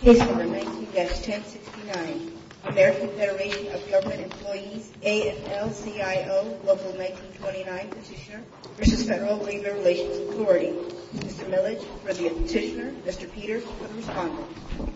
Case No. 19-1069 American Federation of Government Employees AFL-CIO Local 1929 Petitioner v. Federal Labor Relations Authority Mr. Millage for the Petitioner, Mr. Peters for the Responder Petitioner v. Federal Labor Relations Authority Petitioner v. Federal Labor Relations Authority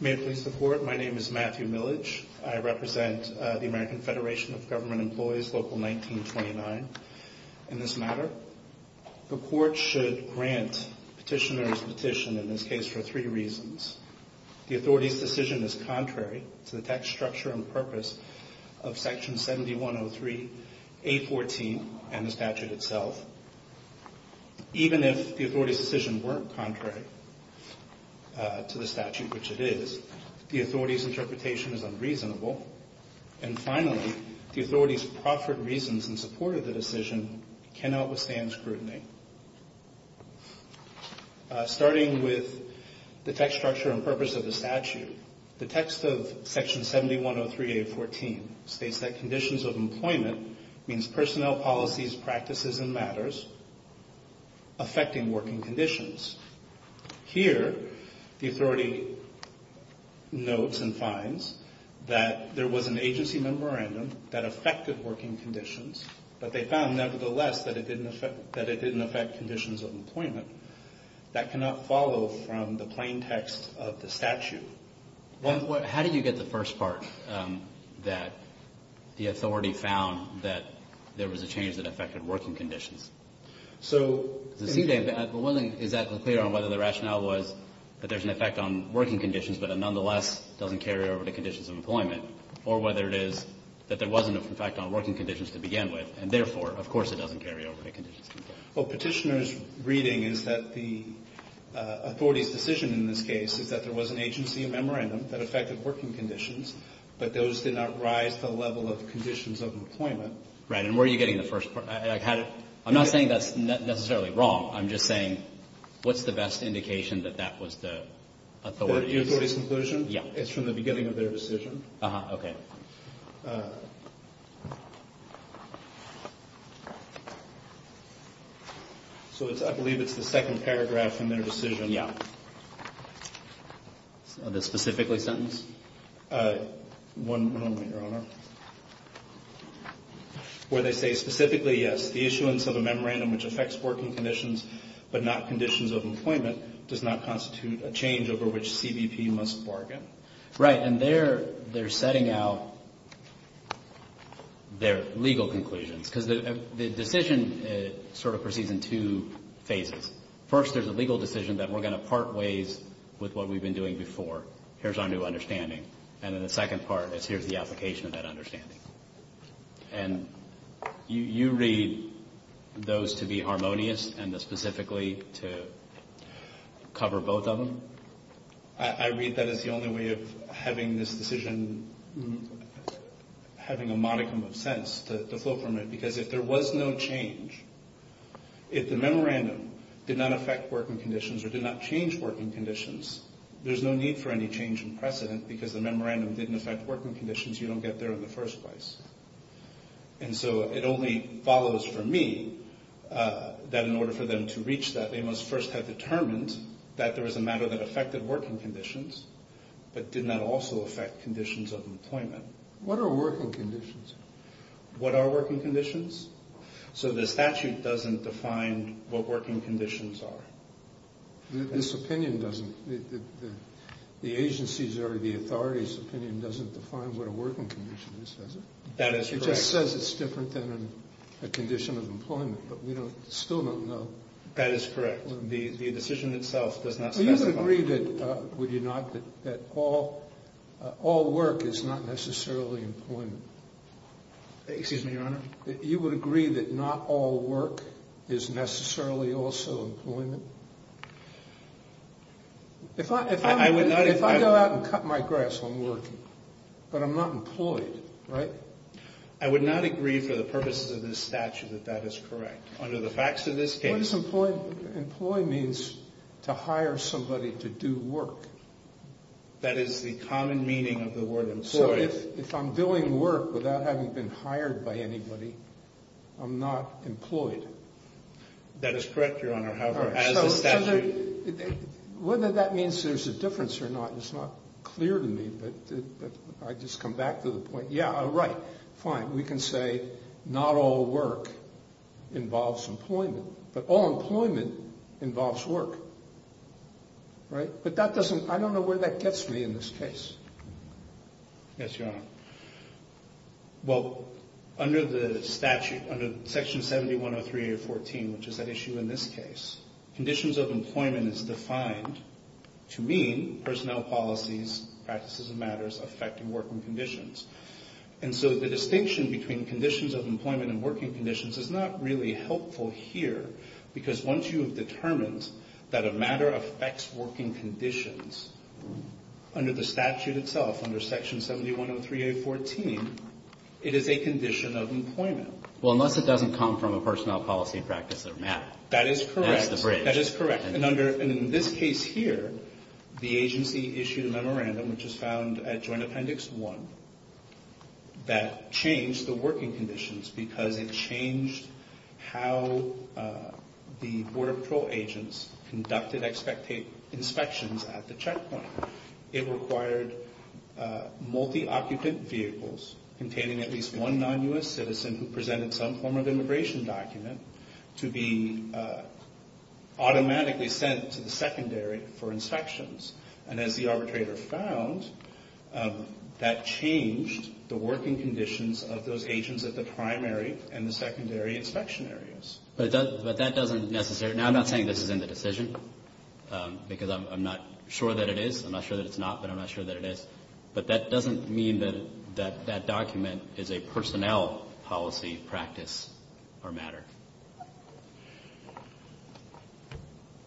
May it please the Court, my name is Matthew Millage. I represent the American Federation of Government Employees Local 1929. In this matter, the Court should grant Petitioner's petition in this case for three reasons. The Authority's decision is contrary to the tax structure and purpose of Section 7103A14 and the statute itself. Even if the Authority's decision weren't contrary to the statute, which it is, the Authority's interpretation is unreasonable. And finally, the Authority's proffered reasons in support of the decision cannot withstand scrutiny. Starting with the tax structure and purpose of the statute, the text of Section 7103A14 states that conditions of employment means personnel, policies, practices, and matters affecting working conditions. Here, the Authority notes and finds that there was an agency memorandum that affected working conditions, but they found, nevertheless, that it didn't affect conditions of employment. That cannot follow from the plain text of the statute. How did you get the first part, that the Authority found that there was a change that affected working conditions? One thing is that clear on whether the rationale was that there's an effect on working conditions, but it nonetheless doesn't carry over to conditions of employment, or whether it is that there wasn't an effect on working conditions to begin with, and therefore, of course, it doesn't carry over to conditions of employment. Well, Petitioner's reading is that the Authority's decision in this case is that there was an agency memorandum that affected working conditions, but those did not rise to the level of conditions of employment. Right. And where are you getting the first part? I'm not saying that's necessarily wrong. I'm just saying what's the best indication that that was the Authority's conclusion? Yeah. It's from the beginning of their decision. Uh-huh. Okay. So I believe it's the second paragraph from their decision. Yeah. On the specifically sentence? One moment, Your Honor. Where they say, specifically, yes, the issuance of a memorandum which affects working conditions, but not conditions of employment, does not constitute a change over which CBP must bargain. Right. And they're setting out their legal conclusions. Because the decision sort of proceeds in two phases. First, there's a legal decision that we're going to part ways with what we've been doing before. Here's our new understanding. And then the second part is here's the application of that understanding. And you read those to be harmonious and specifically to cover both of them? I read that as the only way of having this decision having a modicum of sense to flow from it. Because if there was no change, if the memorandum did not affect working conditions or did not change working conditions, there's no need for any change in precedent. Because the memorandum didn't affect working conditions, you don't get there in the first place. And so it only follows for me that in order for them to reach that, they must first have determined that there was a matter that affected working conditions, but did not also affect conditions of employment. What are working conditions? What are working conditions? So the statute doesn't define what working conditions are. This opinion doesn't. The agency's or the authority's opinion doesn't define what a working condition is, does it? It just says it's different than a condition of employment. But we still don't know. That is correct. The decision itself does not specify. Would you agree that all work is not necessarily employment? Excuse me, Your Honor? You would agree that not all work is necessarily also employment? If I go out and cut my grass on working, but I'm not employed, right? I would not agree for the purposes of this statute that that is correct. Under the facts of this case... What is employed? Employed means to hire somebody to do work. That is the common meaning of the word employed. So if I'm doing work without having been hired by anybody, I'm not employed? That is correct, Your Honor. However, as the statute... Whether that means there's a difference or not is not clear to me, but I just come back to the point. Yeah, right. Fine. We can say not all work involves employment, but all employment involves work, right? But that doesn't... I don't know where that gets me in this case. Yes, Your Honor. Well, under the statute, under Section 7103-814, which is at issue in this case, conditions of employment is defined to mean personnel policies, practices, and matters affecting working conditions. And so the distinction between conditions of employment and working conditions is not really helpful here, because once you have determined that a matter affects working conditions under the statute itself, under Section 7103-814, it is a condition of employment. Well, unless it doesn't come from a personnel policy, practice, or matter. That is correct. That's the bridge. That is correct. And in this case here, the agency issued a memorandum, which is found at Joint Appendix 1, that changed the working conditions because it changed how the Border Patrol agents conducted inspections at the checkpoint. It required multi-occupant vehicles containing at least one non-U.S. citizen who presented some form of immigration document to be automatically sent to the secondary for inspections. And as the arbitrator found, that changed the working conditions of those agents at the primary and the secondary inspection areas. But that doesn't necessarily – now, I'm not saying this is in the decision, because I'm not sure that it is. I'm not sure that it's not, but I'm not sure that it is. But that doesn't mean that that document is a personnel policy, practice, or matter.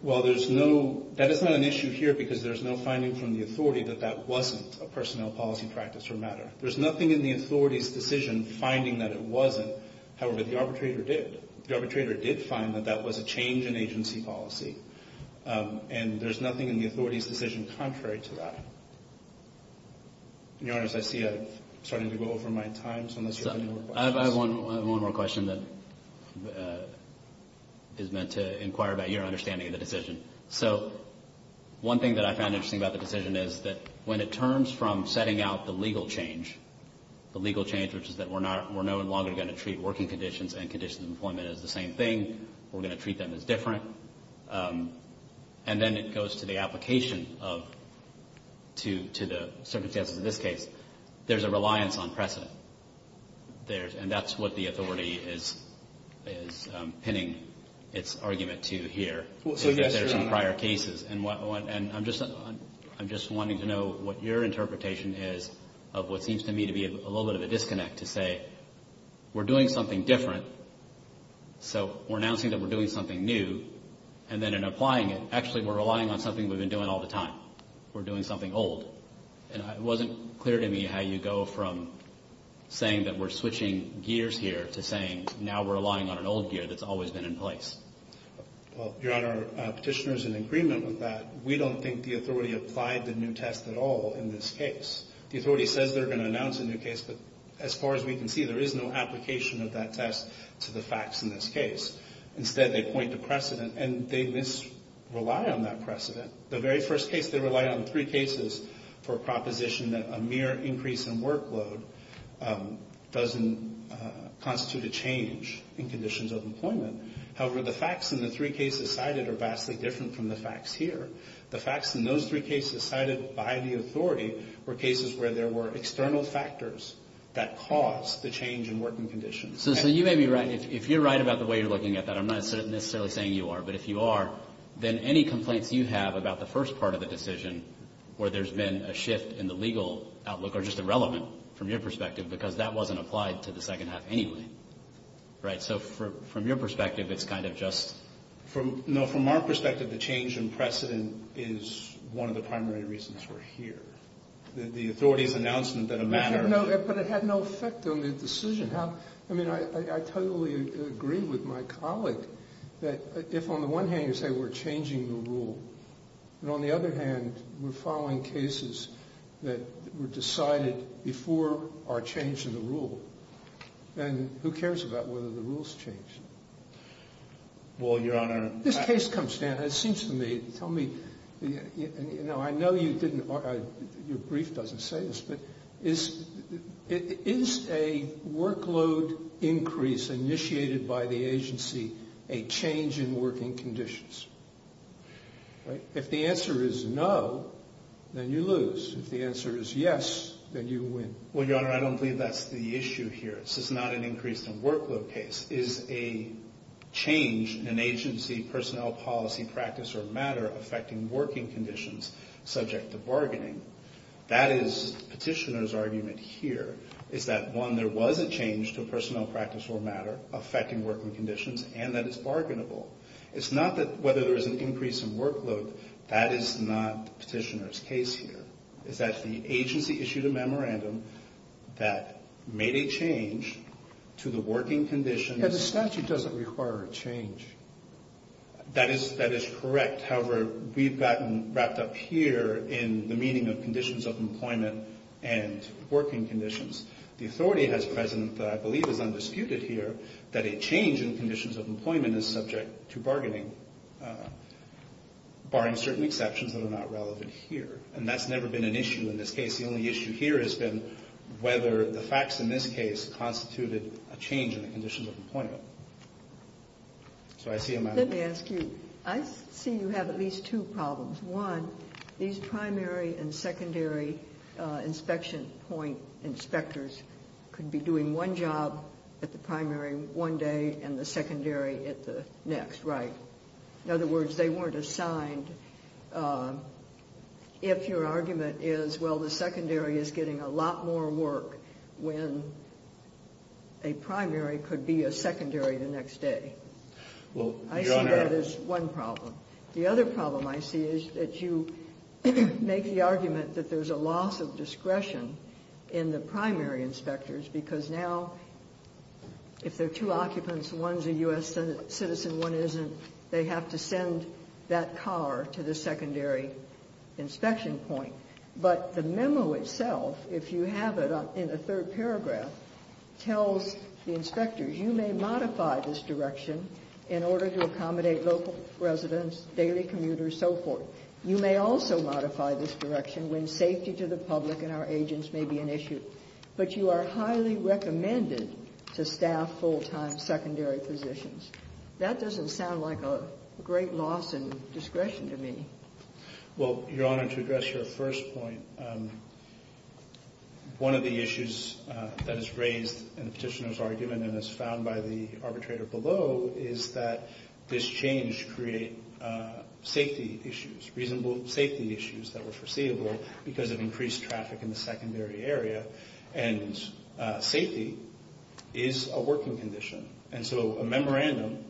Well, there's no – that is not an issue here, because there's no finding from the authority that that wasn't a personnel policy, practice, or matter. There's nothing in the authority's decision finding that it wasn't. However, the arbitrator did. The arbitrator did find that that was a change in agency policy. And there's nothing in the authority's decision contrary to that. Your Honor, as I see it, I'm starting to go over my time, so unless you have any more questions. I have one more question that is meant to inquire about your understanding of the decision. So one thing that I found interesting about the decision is that when it turns from setting out the legal change, the legal change which is that we're no longer going to treat working conditions and conditions of employment as the same thing, we're going to treat them as different. And then it goes to the application of – to the circumstances of this case. There's a reliance on precedent. And that's what the authority is pinning its argument to here. So, yes, Your Honor. There's some prior cases. And I'm just wanting to know what your interpretation is of what seems to me to be a little bit of a disconnect to say, we're doing something different, so we're announcing that we're doing something new. And then in applying it, actually we're relying on something we've been doing all the time. We're doing something old. And it wasn't clear to me how you go from saying that we're switching gears here to saying now we're relying on an old gear that's always been in place. Well, Your Honor, Petitioner is in agreement with that. We don't think the authority applied the new test at all in this case. The authority says they're going to announce a new case, but as far as we can see, there is no application of that test to the facts in this case. Instead, they point to precedent, and they misrely on that precedent. The very first case, they relied on three cases for a proposition that a mere increase in workload doesn't constitute a change in conditions of employment. However, the facts in the three cases cited are vastly different from the facts here. The facts in those three cases cited by the authority were cases where there were external factors that caused the change in working conditions. So you may be right. If you're right about the way you're looking at that, I'm not necessarily saying you are, but if you are, then any complaints you have about the first part of the decision where there's been a shift in the legal outlook are just irrelevant from your perspective because that wasn't applied to the second half anyway, right? So from your perspective, it's kind of just – is one of the primary reasons we're here. The authority's announcement that a manner – But it had no effect on the decision. I mean, I totally agree with my colleague that if on the one hand you say we're changing the rule, and on the other hand we're following cases that were decided before our change in the rule, then who cares about whether the rule's changed? Well, Your Honor – This case comes down – it seems to me – tell me – I know you didn't – your brief doesn't say this, but is a workload increase initiated by the agency a change in working conditions? If the answer is no, then you lose. If the answer is yes, then you win. Well, Your Honor, I don't believe that's the issue here. This is not an increase in workload case. This is a change in an agency, personnel, policy, practice, or matter affecting working conditions subject to bargaining. That is the petitioner's argument here, is that, one, there was a change to personnel, practice, or matter affecting working conditions, and that it's bargainable. It's not that whether there's an increase in workload, that is not the petitioner's case here. It's that the agency issued a memorandum that made a change to the working conditions – And the statute doesn't require a change. That is correct. However, we've gotten wrapped up here in the meaning of conditions of employment and working conditions. The authority that's present that I believe is undisputed here, that a change in conditions of employment is subject to bargaining, barring certain exceptions that are not relevant here. And that's never been an issue in this case. The only issue here has been whether the facts in this case constituted a change in the conditions of employment. So I see a matter – Let me ask you. I see you have at least two problems. One, these primary and secondary inspection point inspectors could be doing one job at the primary one day and the secondary at the next, right? In other words, they weren't assigned. If your argument is, well, the secondary is getting a lot more work when a primary could be a secondary the next day. I see that as one problem. The other problem I see is that you make the argument that there's a loss of discretion in the primary inspectors because now if there are two occupants, one's a U.S. citizen, one isn't, they have to send that car to the secondary inspection point. But the memo itself, if you have it in a third paragraph, tells the inspectors, you may modify this direction in order to accommodate local residents, daily commuters, so forth. You may also modify this direction when safety to the public and our agents may be an issue. But you are highly recommended to staff full-time secondary physicians. That doesn't sound like a great loss in discretion to me. Well, Your Honor, to address your first point, one of the issues that is raised in the petitioner's argument and is found by the arbitrator below is that this change create safety issues, reasonable safety issues that were foreseeable because of increased traffic in the secondary area. And safety is a working condition. And so a memorandum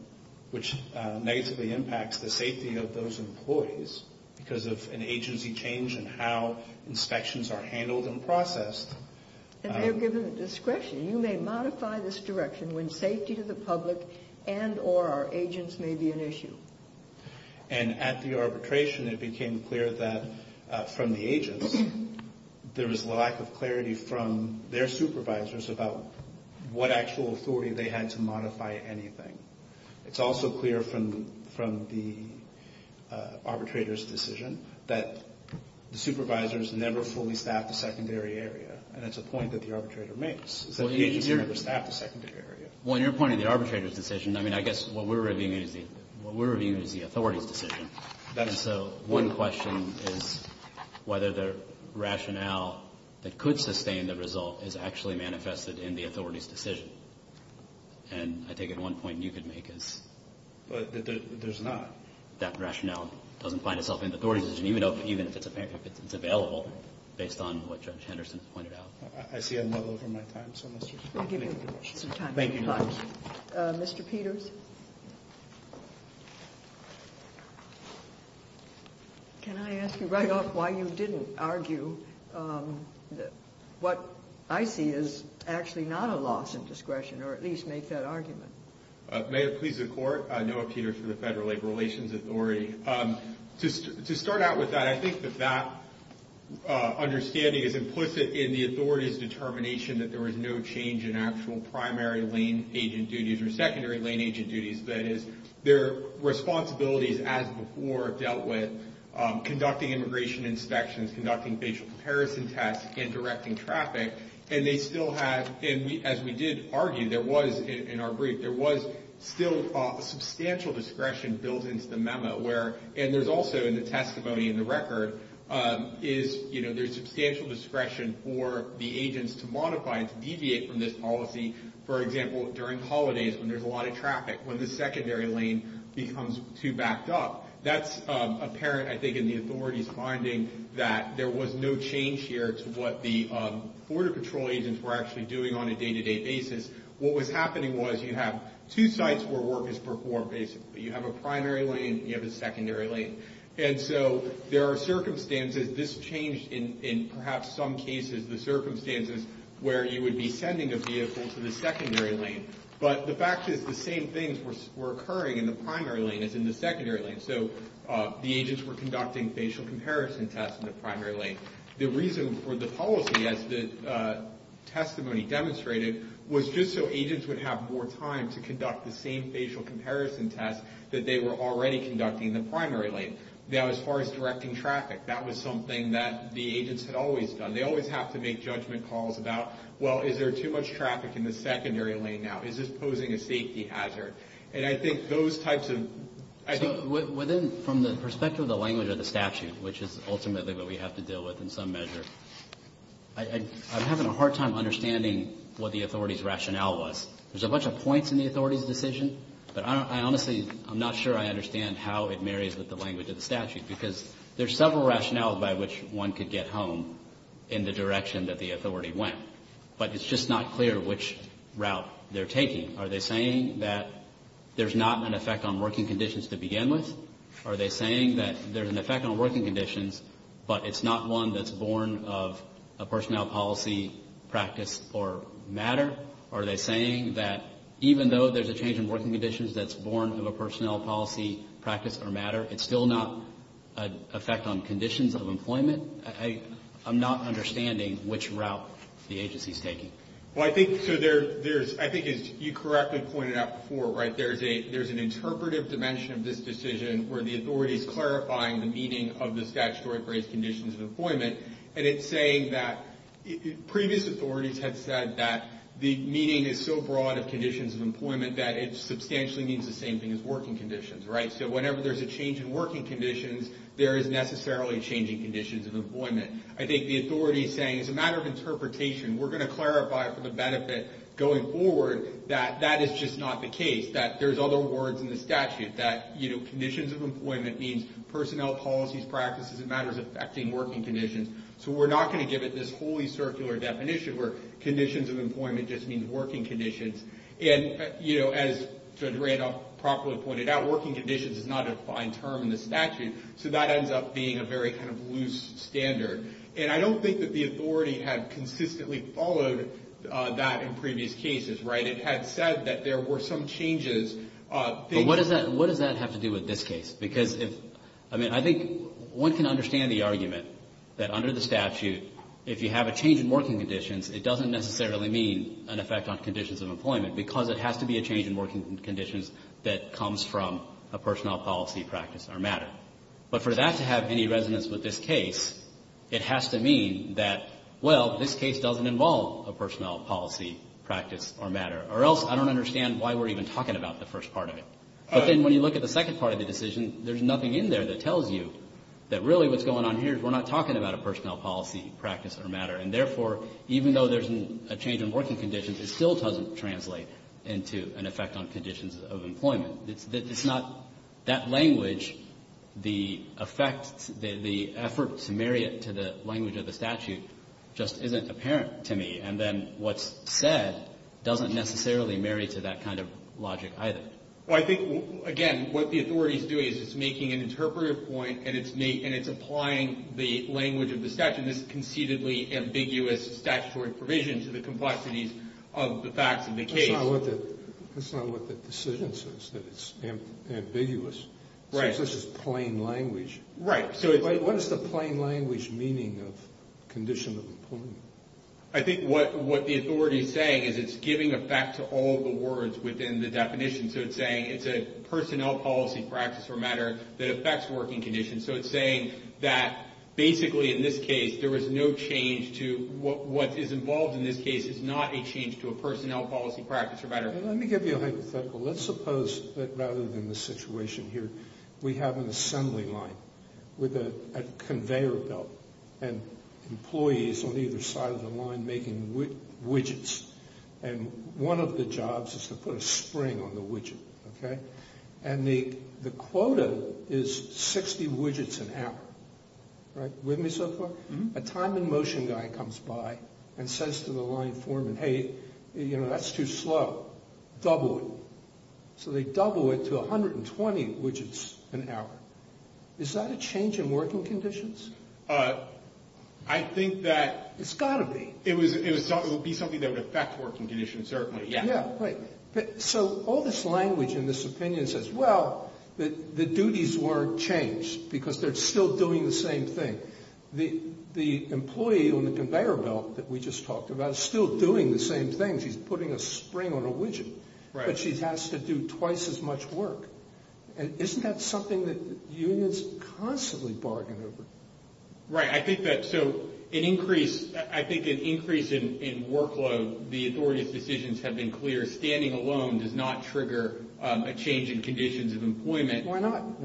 which negatively impacts the safety of those employees because of an agency change and how inspections are handled and processed. And they're given discretion. You may modify this direction when safety to the public and or our agents may be an issue. And at the arbitration, it became clear that from the agents, there was a lack of clarity from their supervisors about what actual authority they had to modify anything. It's also clear from the arbitrator's decision that the supervisors never fully staffed the secondary area. And that's a point that the arbitrator makes, is that the agents never staffed the secondary area. When you're pointing to the arbitrator's decision, I mean, I guess what we're reviewing is the authority's decision. And so one question is whether the rationale that could sustain the result is actually manifested in the authority's decision. And I take it one point you could make is. There's not. That rationale doesn't find itself in the authority's decision, even if it's available, based on what Judge Henderson has pointed out. I see I'm a little over my time. Thank you. Mr. Peters. Can I ask you right off why you didn't argue that what I see is actually not a loss of discretion, or at least make that argument? May it please the Court. Noah Peters for the Federal Labor Relations Authority. To start out with that, I think that that understanding is implicit in the authority's determination that there was no change in actual primary lane agent duties or secondary lane agent duties. That is, their responsibilities as before dealt with conducting immigration inspections, conducting facial comparison tests, and directing traffic. And as we did argue, there was in our brief, there was still substantial discretion built into the memo. And there's also in the testimony in the record, there's substantial discretion for the agents to modify and to deviate from this policy. For example, during holidays when there's a lot of traffic, when the secondary lane becomes too backed up. That's apparent, I think, in the authority's finding that there was no change here to what the border control agents were actually doing on a day-to-day basis. What was happening was you have two sites where work is performed, basically. You have a primary lane and you have a secondary lane. And so there are circumstances, this changed in perhaps some cases, the circumstances where you would be sending a vehicle to the secondary lane. But the fact is the same things were occurring in the primary lane as in the secondary lane. So the agents were conducting facial comparison tests in the primary lane. The reason for the policy, as the testimony demonstrated, was just so agents would have more time to conduct the same facial comparison test that they were already conducting in the primary lane. Now, as far as directing traffic, that was something that the agents had always done. They always have to make judgment calls about, well, is there too much traffic in the secondary lane now? Is this posing a safety hazard? And I think those types of ‑‑ So within, from the perspective of the language of the statute, which is ultimately what we have to deal with in some measure, I'm having a hard time understanding what the authority's rationale was. There's a bunch of points in the authority's decision, but I honestly, I'm not sure I understand how it marries with the language of the statute because there's several rationales by which one could get home in the direction that the authority went. But it's just not clear which route they're taking. Are they saying that there's not an effect on working conditions to begin with? Are they saying that there's an effect on working conditions, but it's not one that's born of a personnel policy, practice, or matter? Are they saying that even though there's a change in working conditions that's born of a personnel policy, practice, or matter, it's still not an effect on conditions of employment? I'm not understanding which route the agency's taking. Well, I think, so there's, I think as you correctly pointed out before, right, there's an interpretive dimension of this decision where the authority's clarifying the meaning of the statutory phrase conditions of employment, and it's saying that previous authorities had said that the meaning is so broad of conditions of employment that it substantially means the same thing as working conditions, right? So whenever there's a change in working conditions, there is necessarily changing conditions of employment. I think the authority's saying it's a matter of interpretation. We're going to clarify for the benefit going forward that that is just not the case, that there's other words in the statute, that, you know, conditions of employment means personnel policies, practices, and matters affecting working conditions. So we're not going to give it this wholly circular definition where conditions of employment just means working conditions. And, you know, as Judge Randolph properly pointed out, working conditions is not a defined term in the statute, so that ends up being a very kind of loose standard. And I don't think that the authority had consistently followed that in previous cases, right? It had said that there were some changes. But what does that have to do with this case? Because if, I mean, I think one can understand the argument that under the statute, if you have a change in working conditions, it doesn't necessarily mean an effect on conditions of employment because it has to be a change in working conditions that comes from a personnel policy, practice, or matter. But for that to have any resonance with this case, it has to mean that, well, this case doesn't involve a personnel policy, practice, or matter. Or else I don't understand why we're even talking about the first part of it. But then when you look at the second part of the decision, there's nothing in there that tells you that really what's going on here is we're not talking about a personnel policy, practice, or matter. And therefore, even though there's a change in working conditions, it still doesn't translate into an effect on conditions of employment. It's not that language, the effect, the effort to marry it to the language of the statute just isn't apparent to me. And then what's said doesn't necessarily marry to that kind of logic either. Well, I think, again, what the authority is doing is it's making an interpretive point and it's applying the language of the statute. And this conceitedly ambiguous statutory provision to the complexities of the facts of the case. That's not what the decision says, that it's ambiguous. It says this is plain language. Right. What is the plain language meaning of condition of employment? I think what the authority is saying is it's giving effect to all the words within the definition. So it's saying it's a personnel policy, practice, or matter that affects working conditions. So it's saying that basically in this case there is no change to what is involved in this case is not a change to a personnel policy, practice, or matter. Let me give you a hypothetical. Let's suppose that rather than the situation here, we have an assembly line with a conveyor belt and employees on either side of the line making widgets. And one of the jobs is to put a spring on the widget. And the quota is 60 widgets an hour. With me so far? A time and motion guy comes by and says to the line foreman, hey, that's too slow. Double it. So they double it to 120 widgets an hour. Is that a change in working conditions? I think that... It's got to be. It would be something that would affect working conditions, certainly. So all this language in this opinion says, well, the duties weren't changed because they're still doing the same thing. The employee on the conveyor belt that we just talked about is still doing the same thing. She's putting a spring on a widget. But she has to do twice as much work. And isn't that something that unions constantly bargain over? Right. I think an increase in workload, the authority's decisions have been clear. Standing alone does not trigger a change in conditions of employment. Why not?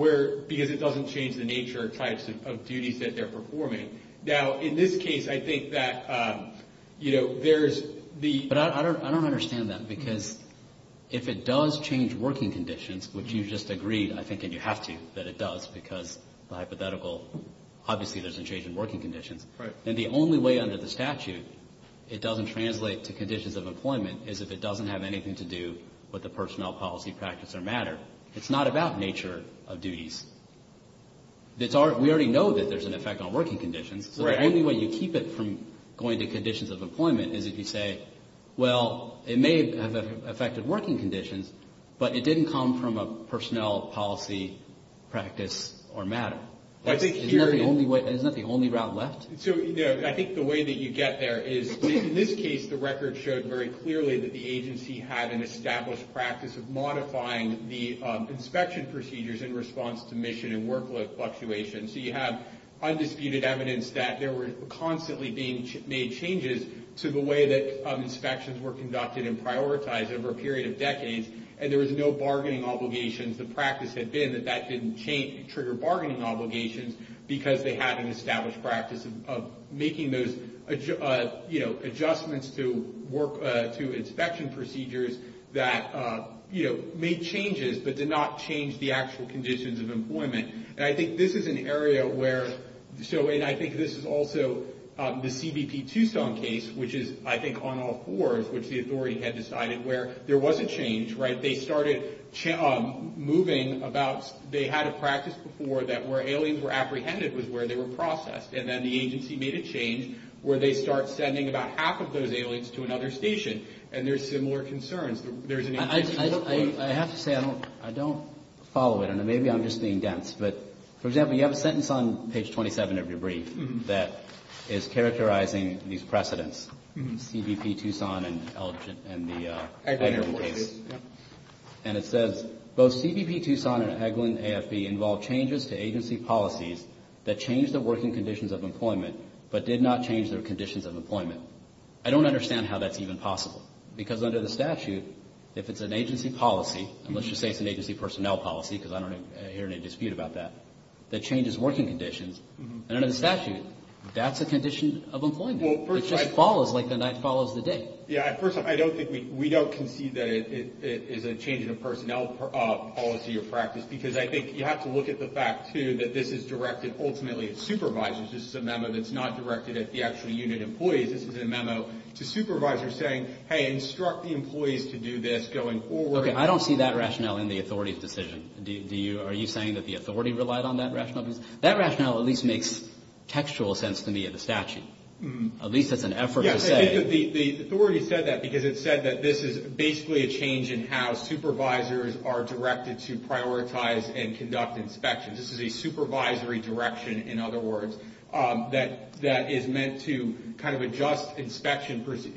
Because it doesn't change the nature or types of duties that they're performing. Now, in this case, I think that there's the... But I don't understand that because if it does change working conditions, which you just agreed, I think, and you have to, that it does, because the hypothetical, obviously, there's a change in working conditions. And the only way under the statute it doesn't translate to conditions of employment is if it doesn't have anything to do with the personnel, policy, practice, or matter. It's not about nature of duties. We already know that there's an effect on working conditions. So the only way you keep it from going to conditions of employment is if you say, well, it may have affected working conditions, but it didn't come from a personnel, policy, practice, or matter. Isn't that the only route left? I think the way that you get there is, in this case, the record showed very clearly that the agency had an established practice of modifying the inspection procedures in response to mission and workload fluctuations. So you have undisputed evidence that there were constantly being made changes to the way that inspections were conducted and prioritized over a period of decades, and there was no bargaining obligations. The practice had been that that didn't trigger bargaining obligations because they had an established practice of making those adjustments to inspection procedures that made changes but did not change the actual conditions of employment. And I think this is an area where, and I think this is also the CBP Tucson case, which is, I think, on all fours, which the authority had decided, where there was a change, right? They started moving about, they had a practice before that where aliens were apprehended was where they were processed, and then the agency made a change where they start sending about half of those aliens to another station, and there's similar concerns. I have to say I don't follow it, and maybe I'm just being dense. But, for example, you have a sentence on page 27 of your brief that is characterizing these precedents, CBP Tucson and the Eglin case. And it says, both CBP Tucson and Eglin AFB involved changes to agency policies that changed the working conditions of employment but did not change their conditions of employment. I don't understand how that's even possible, because under the statute, if it's an agency policy, and let's just say it's an agency personnel policy, because I don't hear any dispute about that, that changes working conditions, and under the statute, that's a condition of employment. It just follows like the night follows the day. Yeah. First off, I don't think we don't concede that it is a change in a personnel policy or practice, because I think you have to look at the fact, too, that this is directed ultimately at supervisors. This is a memo that's not directed at the actual unit employees. This is a memo to supervisors saying, hey, instruct the employees to do this going forward. Okay. I don't see that rationale in the authority's decision. Are you saying that the authority relied on that rationale? That rationale at least makes textual sense to me of the statute. At least it's an effort to say. The authority said that because it said that this is basically a change in how supervisors are directed to prioritize and conduct inspections. This is a supervisory direction, in other words, that is meant to kind of adjust inspection procedures.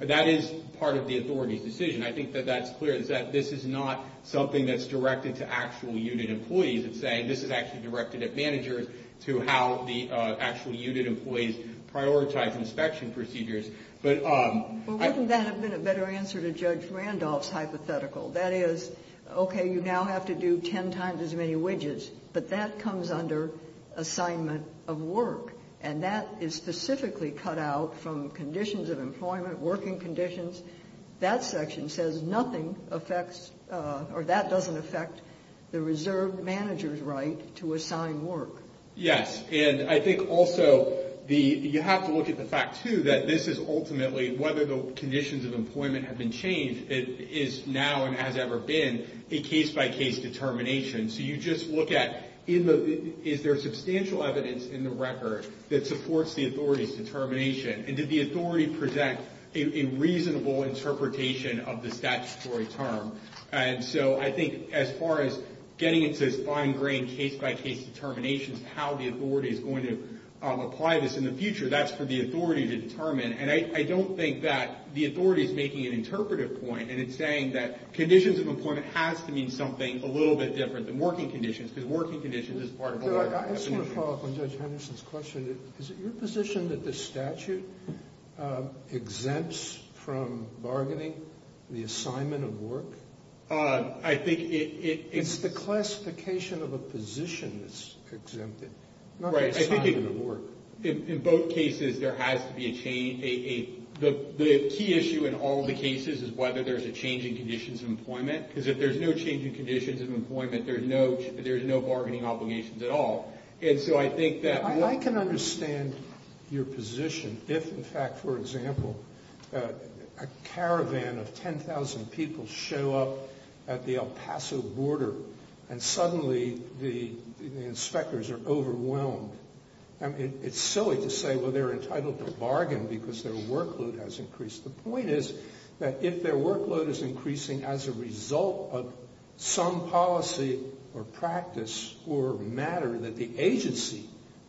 That is part of the authority's decision. I think that that's clear, is that this is not something that's directed to actual unit employees. It's saying this is actually directed at managers to how the actual unit employees prioritize inspection procedures. But wouldn't that have been a better answer to Judge Randolph's hypothetical? That is, okay, you now have to do ten times as many widgets, but that comes under assignment of work, and that is specifically cut out from conditions of employment, working conditions. That section says nothing affects or that doesn't affect the reserve manager's right to assign work. Yes, and I think also you have to look at the fact, too, that this is ultimately whether the conditions of employment have been changed. It is now and has ever been a case-by-case determination. So you just look at is there substantial evidence in the record that supports the authority's determination, and did the authority present a reasonable interpretation of the statutory term? And so I think as far as getting into this fine-grained case-by-case determination of how the authority is going to apply this in the future, that's for the authority to determine. And I don't think that the authority is making an interpretive point, and it's saying that conditions of employment has to mean something a little bit different than working conditions, because working conditions is part of a law definition. I just want to follow up on Judge Henderson's question. Is it your position that the statute exempts from bargaining the assignment of work? I think it is. It's the classification of a position that's exempted, not the assignment of work. In both cases, there has to be a change. The key issue in all the cases is whether there's a change in conditions of employment, because if there's no change in conditions of employment, there's no bargaining obligations at all. And so I think that what— I can understand your position if, in fact, for example, a caravan of 10,000 people show up at the El Paso border, and suddenly the inspectors are overwhelmed. I mean, it's silly to say, well, they're entitled to bargain because their workload has increased. The point is that if their workload is increasing as a result of some policy or practice or matter that the agency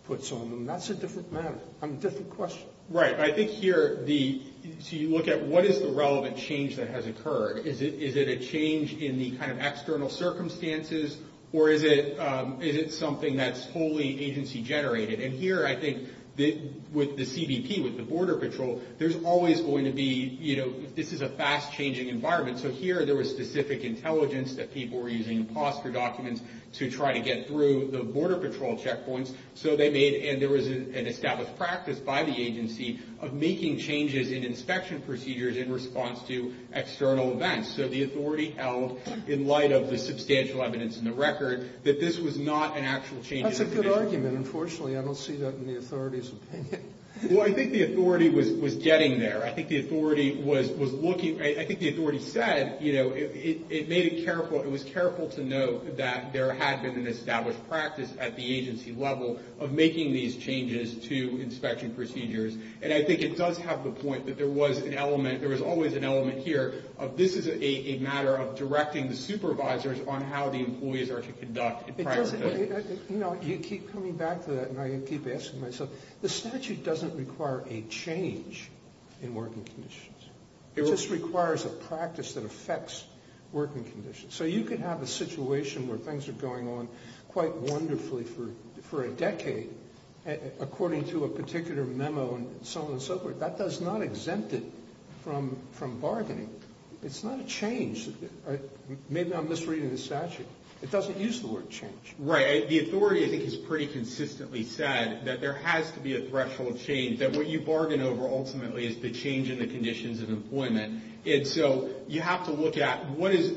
puts on them, that's a different matter, a different question. Right. I think here the—so you look at what is the relevant change that has occurred. Is it a change in the kind of external circumstances, or is it something that's wholly agency-generated? And here I think with the CBP, with the Border Patrol, there's always going to be—you know, this is a fast-changing environment. So here there was specific intelligence that people were using imposter documents to try to get through the Border Patrol checkpoints. So they made—and there was an established practice by the agency of making changes in inspection procedures in response to external events. So the authority held, in light of the substantial evidence in the record, that this was not an actual change. That's a good argument. Unfortunately, I don't see that in the authority's opinion. Well, I think the authority was getting there. I think the authority was looking—I think the authority said, you know, it made it careful. It was careful to note that there had been an established practice at the agency level of making these changes to inspection procedures. And I think it does have the point that there was an element—there was always an element here of, this is a matter of directing the supervisors on how the employees are to conduct prior code. You know, you keep coming back to that, and I keep asking myself, the statute doesn't require a change in working conditions. It just requires a practice that affects working conditions. So you could have a situation where things are going on quite wonderfully for a decade, according to a particular memo and so on and so forth. That does not exempt it from bargaining. It's not a change. Maybe I'm misreading the statute. It doesn't use the word change. Right. The authority, I think, has pretty consistently said that there has to be a threshold of change, that what you bargain over ultimately is the change in the conditions of employment. And so you have to look at what is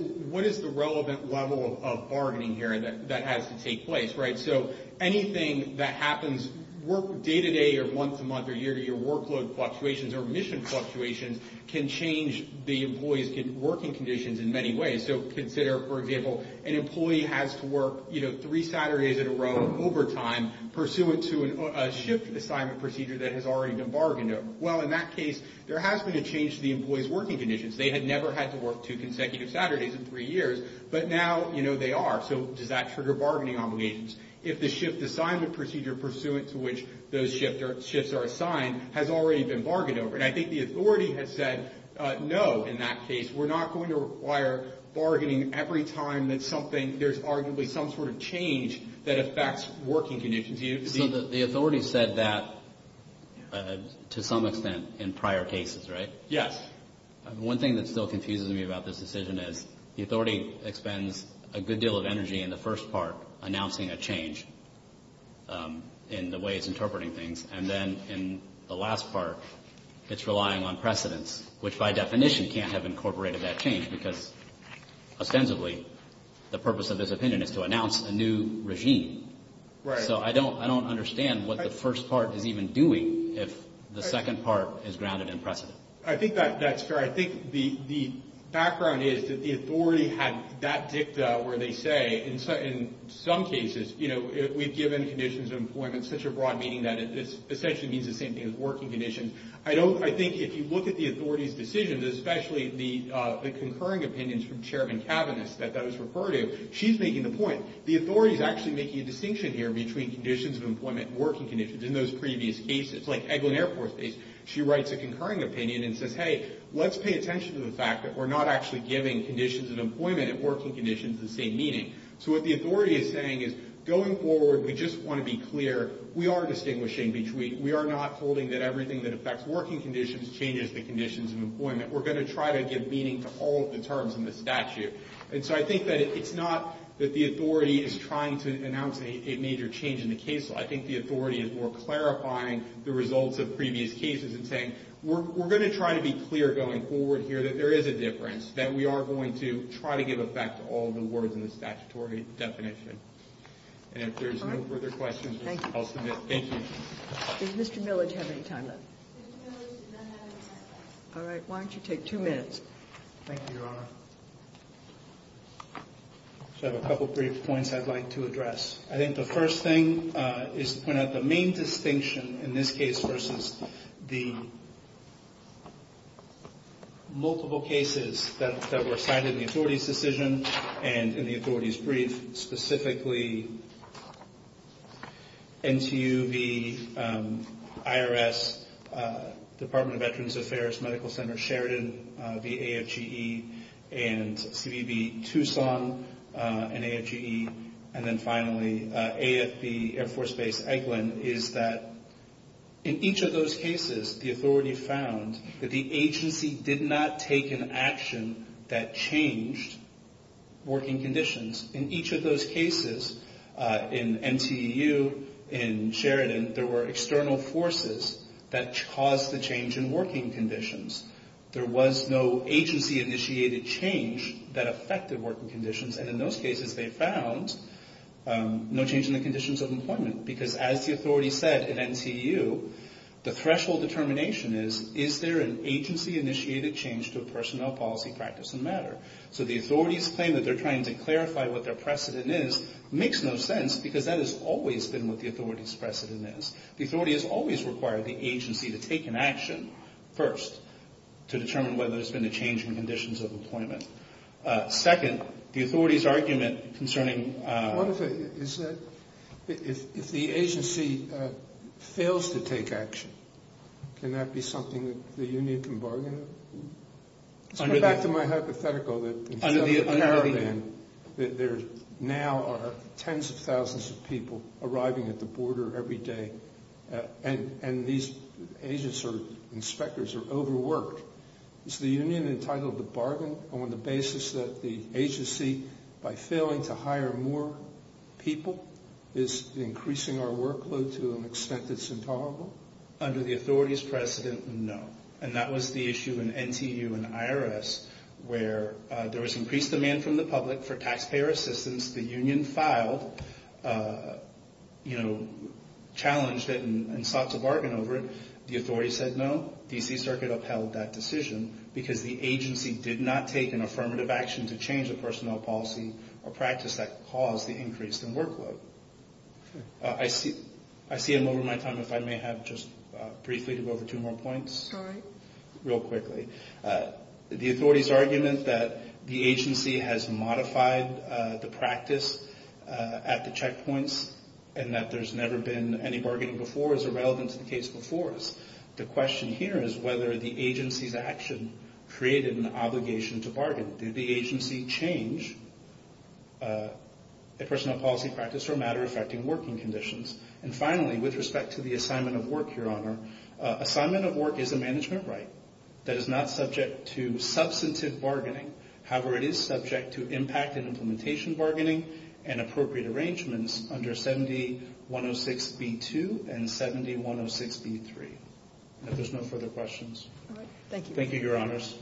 the relevant level of bargaining here that has to take place, right? So anything that happens day-to-day or month-to-month or year-to-year workload fluctuations or mission fluctuations can change the employee's working conditions in many ways. So consider, for example, an employee has to work, you know, three Saturdays in a row overtime pursuant to a shift assignment procedure that has already been bargained over. Well, in that case, there has been a change to the employee's working conditions. They had never had to work two consecutive Saturdays in three years, but now, you know, they are. So does that trigger bargaining obligations? If the shift assignment procedure pursuant to which those shifts are assigned has already been bargained over. And I think the authority has said no in that case. We're not going to require bargaining every time that something, there's arguably some sort of change that affects working conditions. So the authority said that to some extent in prior cases, right? Yes. One thing that still confuses me about this decision is the authority expends a good deal of energy in the first part announcing a change in the way it's interpreting things. And then in the last part, it's relying on precedence, which by definition can't have incorporated that change because ostensibly the purpose of this opinion is to announce a new regime. Right. So I don't understand what the first part is even doing if the second part is grounded in precedent. I think that's fair. I think the background is that the authority had that dicta where they say in some cases, you know, we've given conditions of employment such a broad meaning that it essentially means the same thing as working conditions. I think if you look at the authority's decisions, especially the concurring opinions from Chairman Kavanagh that I was referring to, she's making the point. The authority is actually making a distinction here between conditions of employment and working conditions. In those previous cases, like Eglin Air Force Base, she writes a concurring opinion and says, hey, let's pay attention to the fact that we're not actually giving conditions of employment and working conditions the same meaning. So what the authority is saying is going forward, we just want to be clear. We are distinguishing between. We are not holding that everything that affects working conditions changes the conditions of employment. We're going to try to give meaning to all of the terms in the statute. And so I think that it's not that the authority is trying to announce a major change in the case law. I think the authority is more clarifying the results of previous cases and saying, we're going to try to be clear going forward here that there is a difference, that we are going to try to give effect to all the words in the statutory definition. And if there's no further questions, I'll submit. Thank you. Does Mr. Milledge have any time left? Mr. Milledge does not have any time left. All right. Why don't you take two minutes. Thank you, Your Honor. So I have a couple brief points I'd like to address. I think the first thing is to point out the main distinction in this case versus the multiple cases that were cited in the authority's decision and in the authority's brief, specifically NTU v. IRS, Department of Veterans Affairs, Medical Center Sheridan v. AFGE, and CBV Tucson v. AFGE, and then finally AFB, Air Force Base Eglin, is that in each of those cases the authority found that the agency did not take an action that changed working conditions. In each of those cases, in NTU, in Sheridan, there were external forces that caused the change in working conditions. There was no agency-initiated change that affected working conditions, and in those cases they found no change in the conditions of employment because, as the authority said in NTU, the threshold determination is, is there an agency-initiated change to a personnel policy practice and matter? So the authority's claim that they're trying to clarify what their precedent is makes no sense because that has always been what the authority's precedent is. The authority has always required the agency to take an action first to determine whether there's been a change in conditions of employment. Second, the authority's argument concerning... Let's go back to my hypothetical. There now are tens of thousands of people arriving at the border every day, and these agents or inspectors are overworked. Is the union entitled to bargain on the basis that the agency, by failing to hire more people, is increasing our workload to an extent that's intolerable? Under the authority's precedent, no, and that was the issue in NTU and IRS where there was increased demand from the public for taxpayer assistance. The union filed, you know, challenged it and sought to bargain over it. The authority said no. D.C. Circuit upheld that decision because the agency did not take an affirmative action to change a personnel policy or practice that caused the increase in workload. I see I'm over my time. If I may have just briefly to go over two more points real quickly. The authority's argument that the agency has modified the practice at the checkpoints and that there's never been any bargaining before is irrelevant to the case before us. The question here is whether the agency's action created an obligation to bargain. Did the agency change a personnel policy practice or matter affecting working conditions? And finally, with respect to the assignment of work, Your Honor, assignment of work is a management right that is not subject to substantive bargaining. However, it is subject to impact and implementation bargaining and appropriate arrangements under 7106B2 and 7106B3. If there's no further questions. Thank you. Thank you, Your Honors.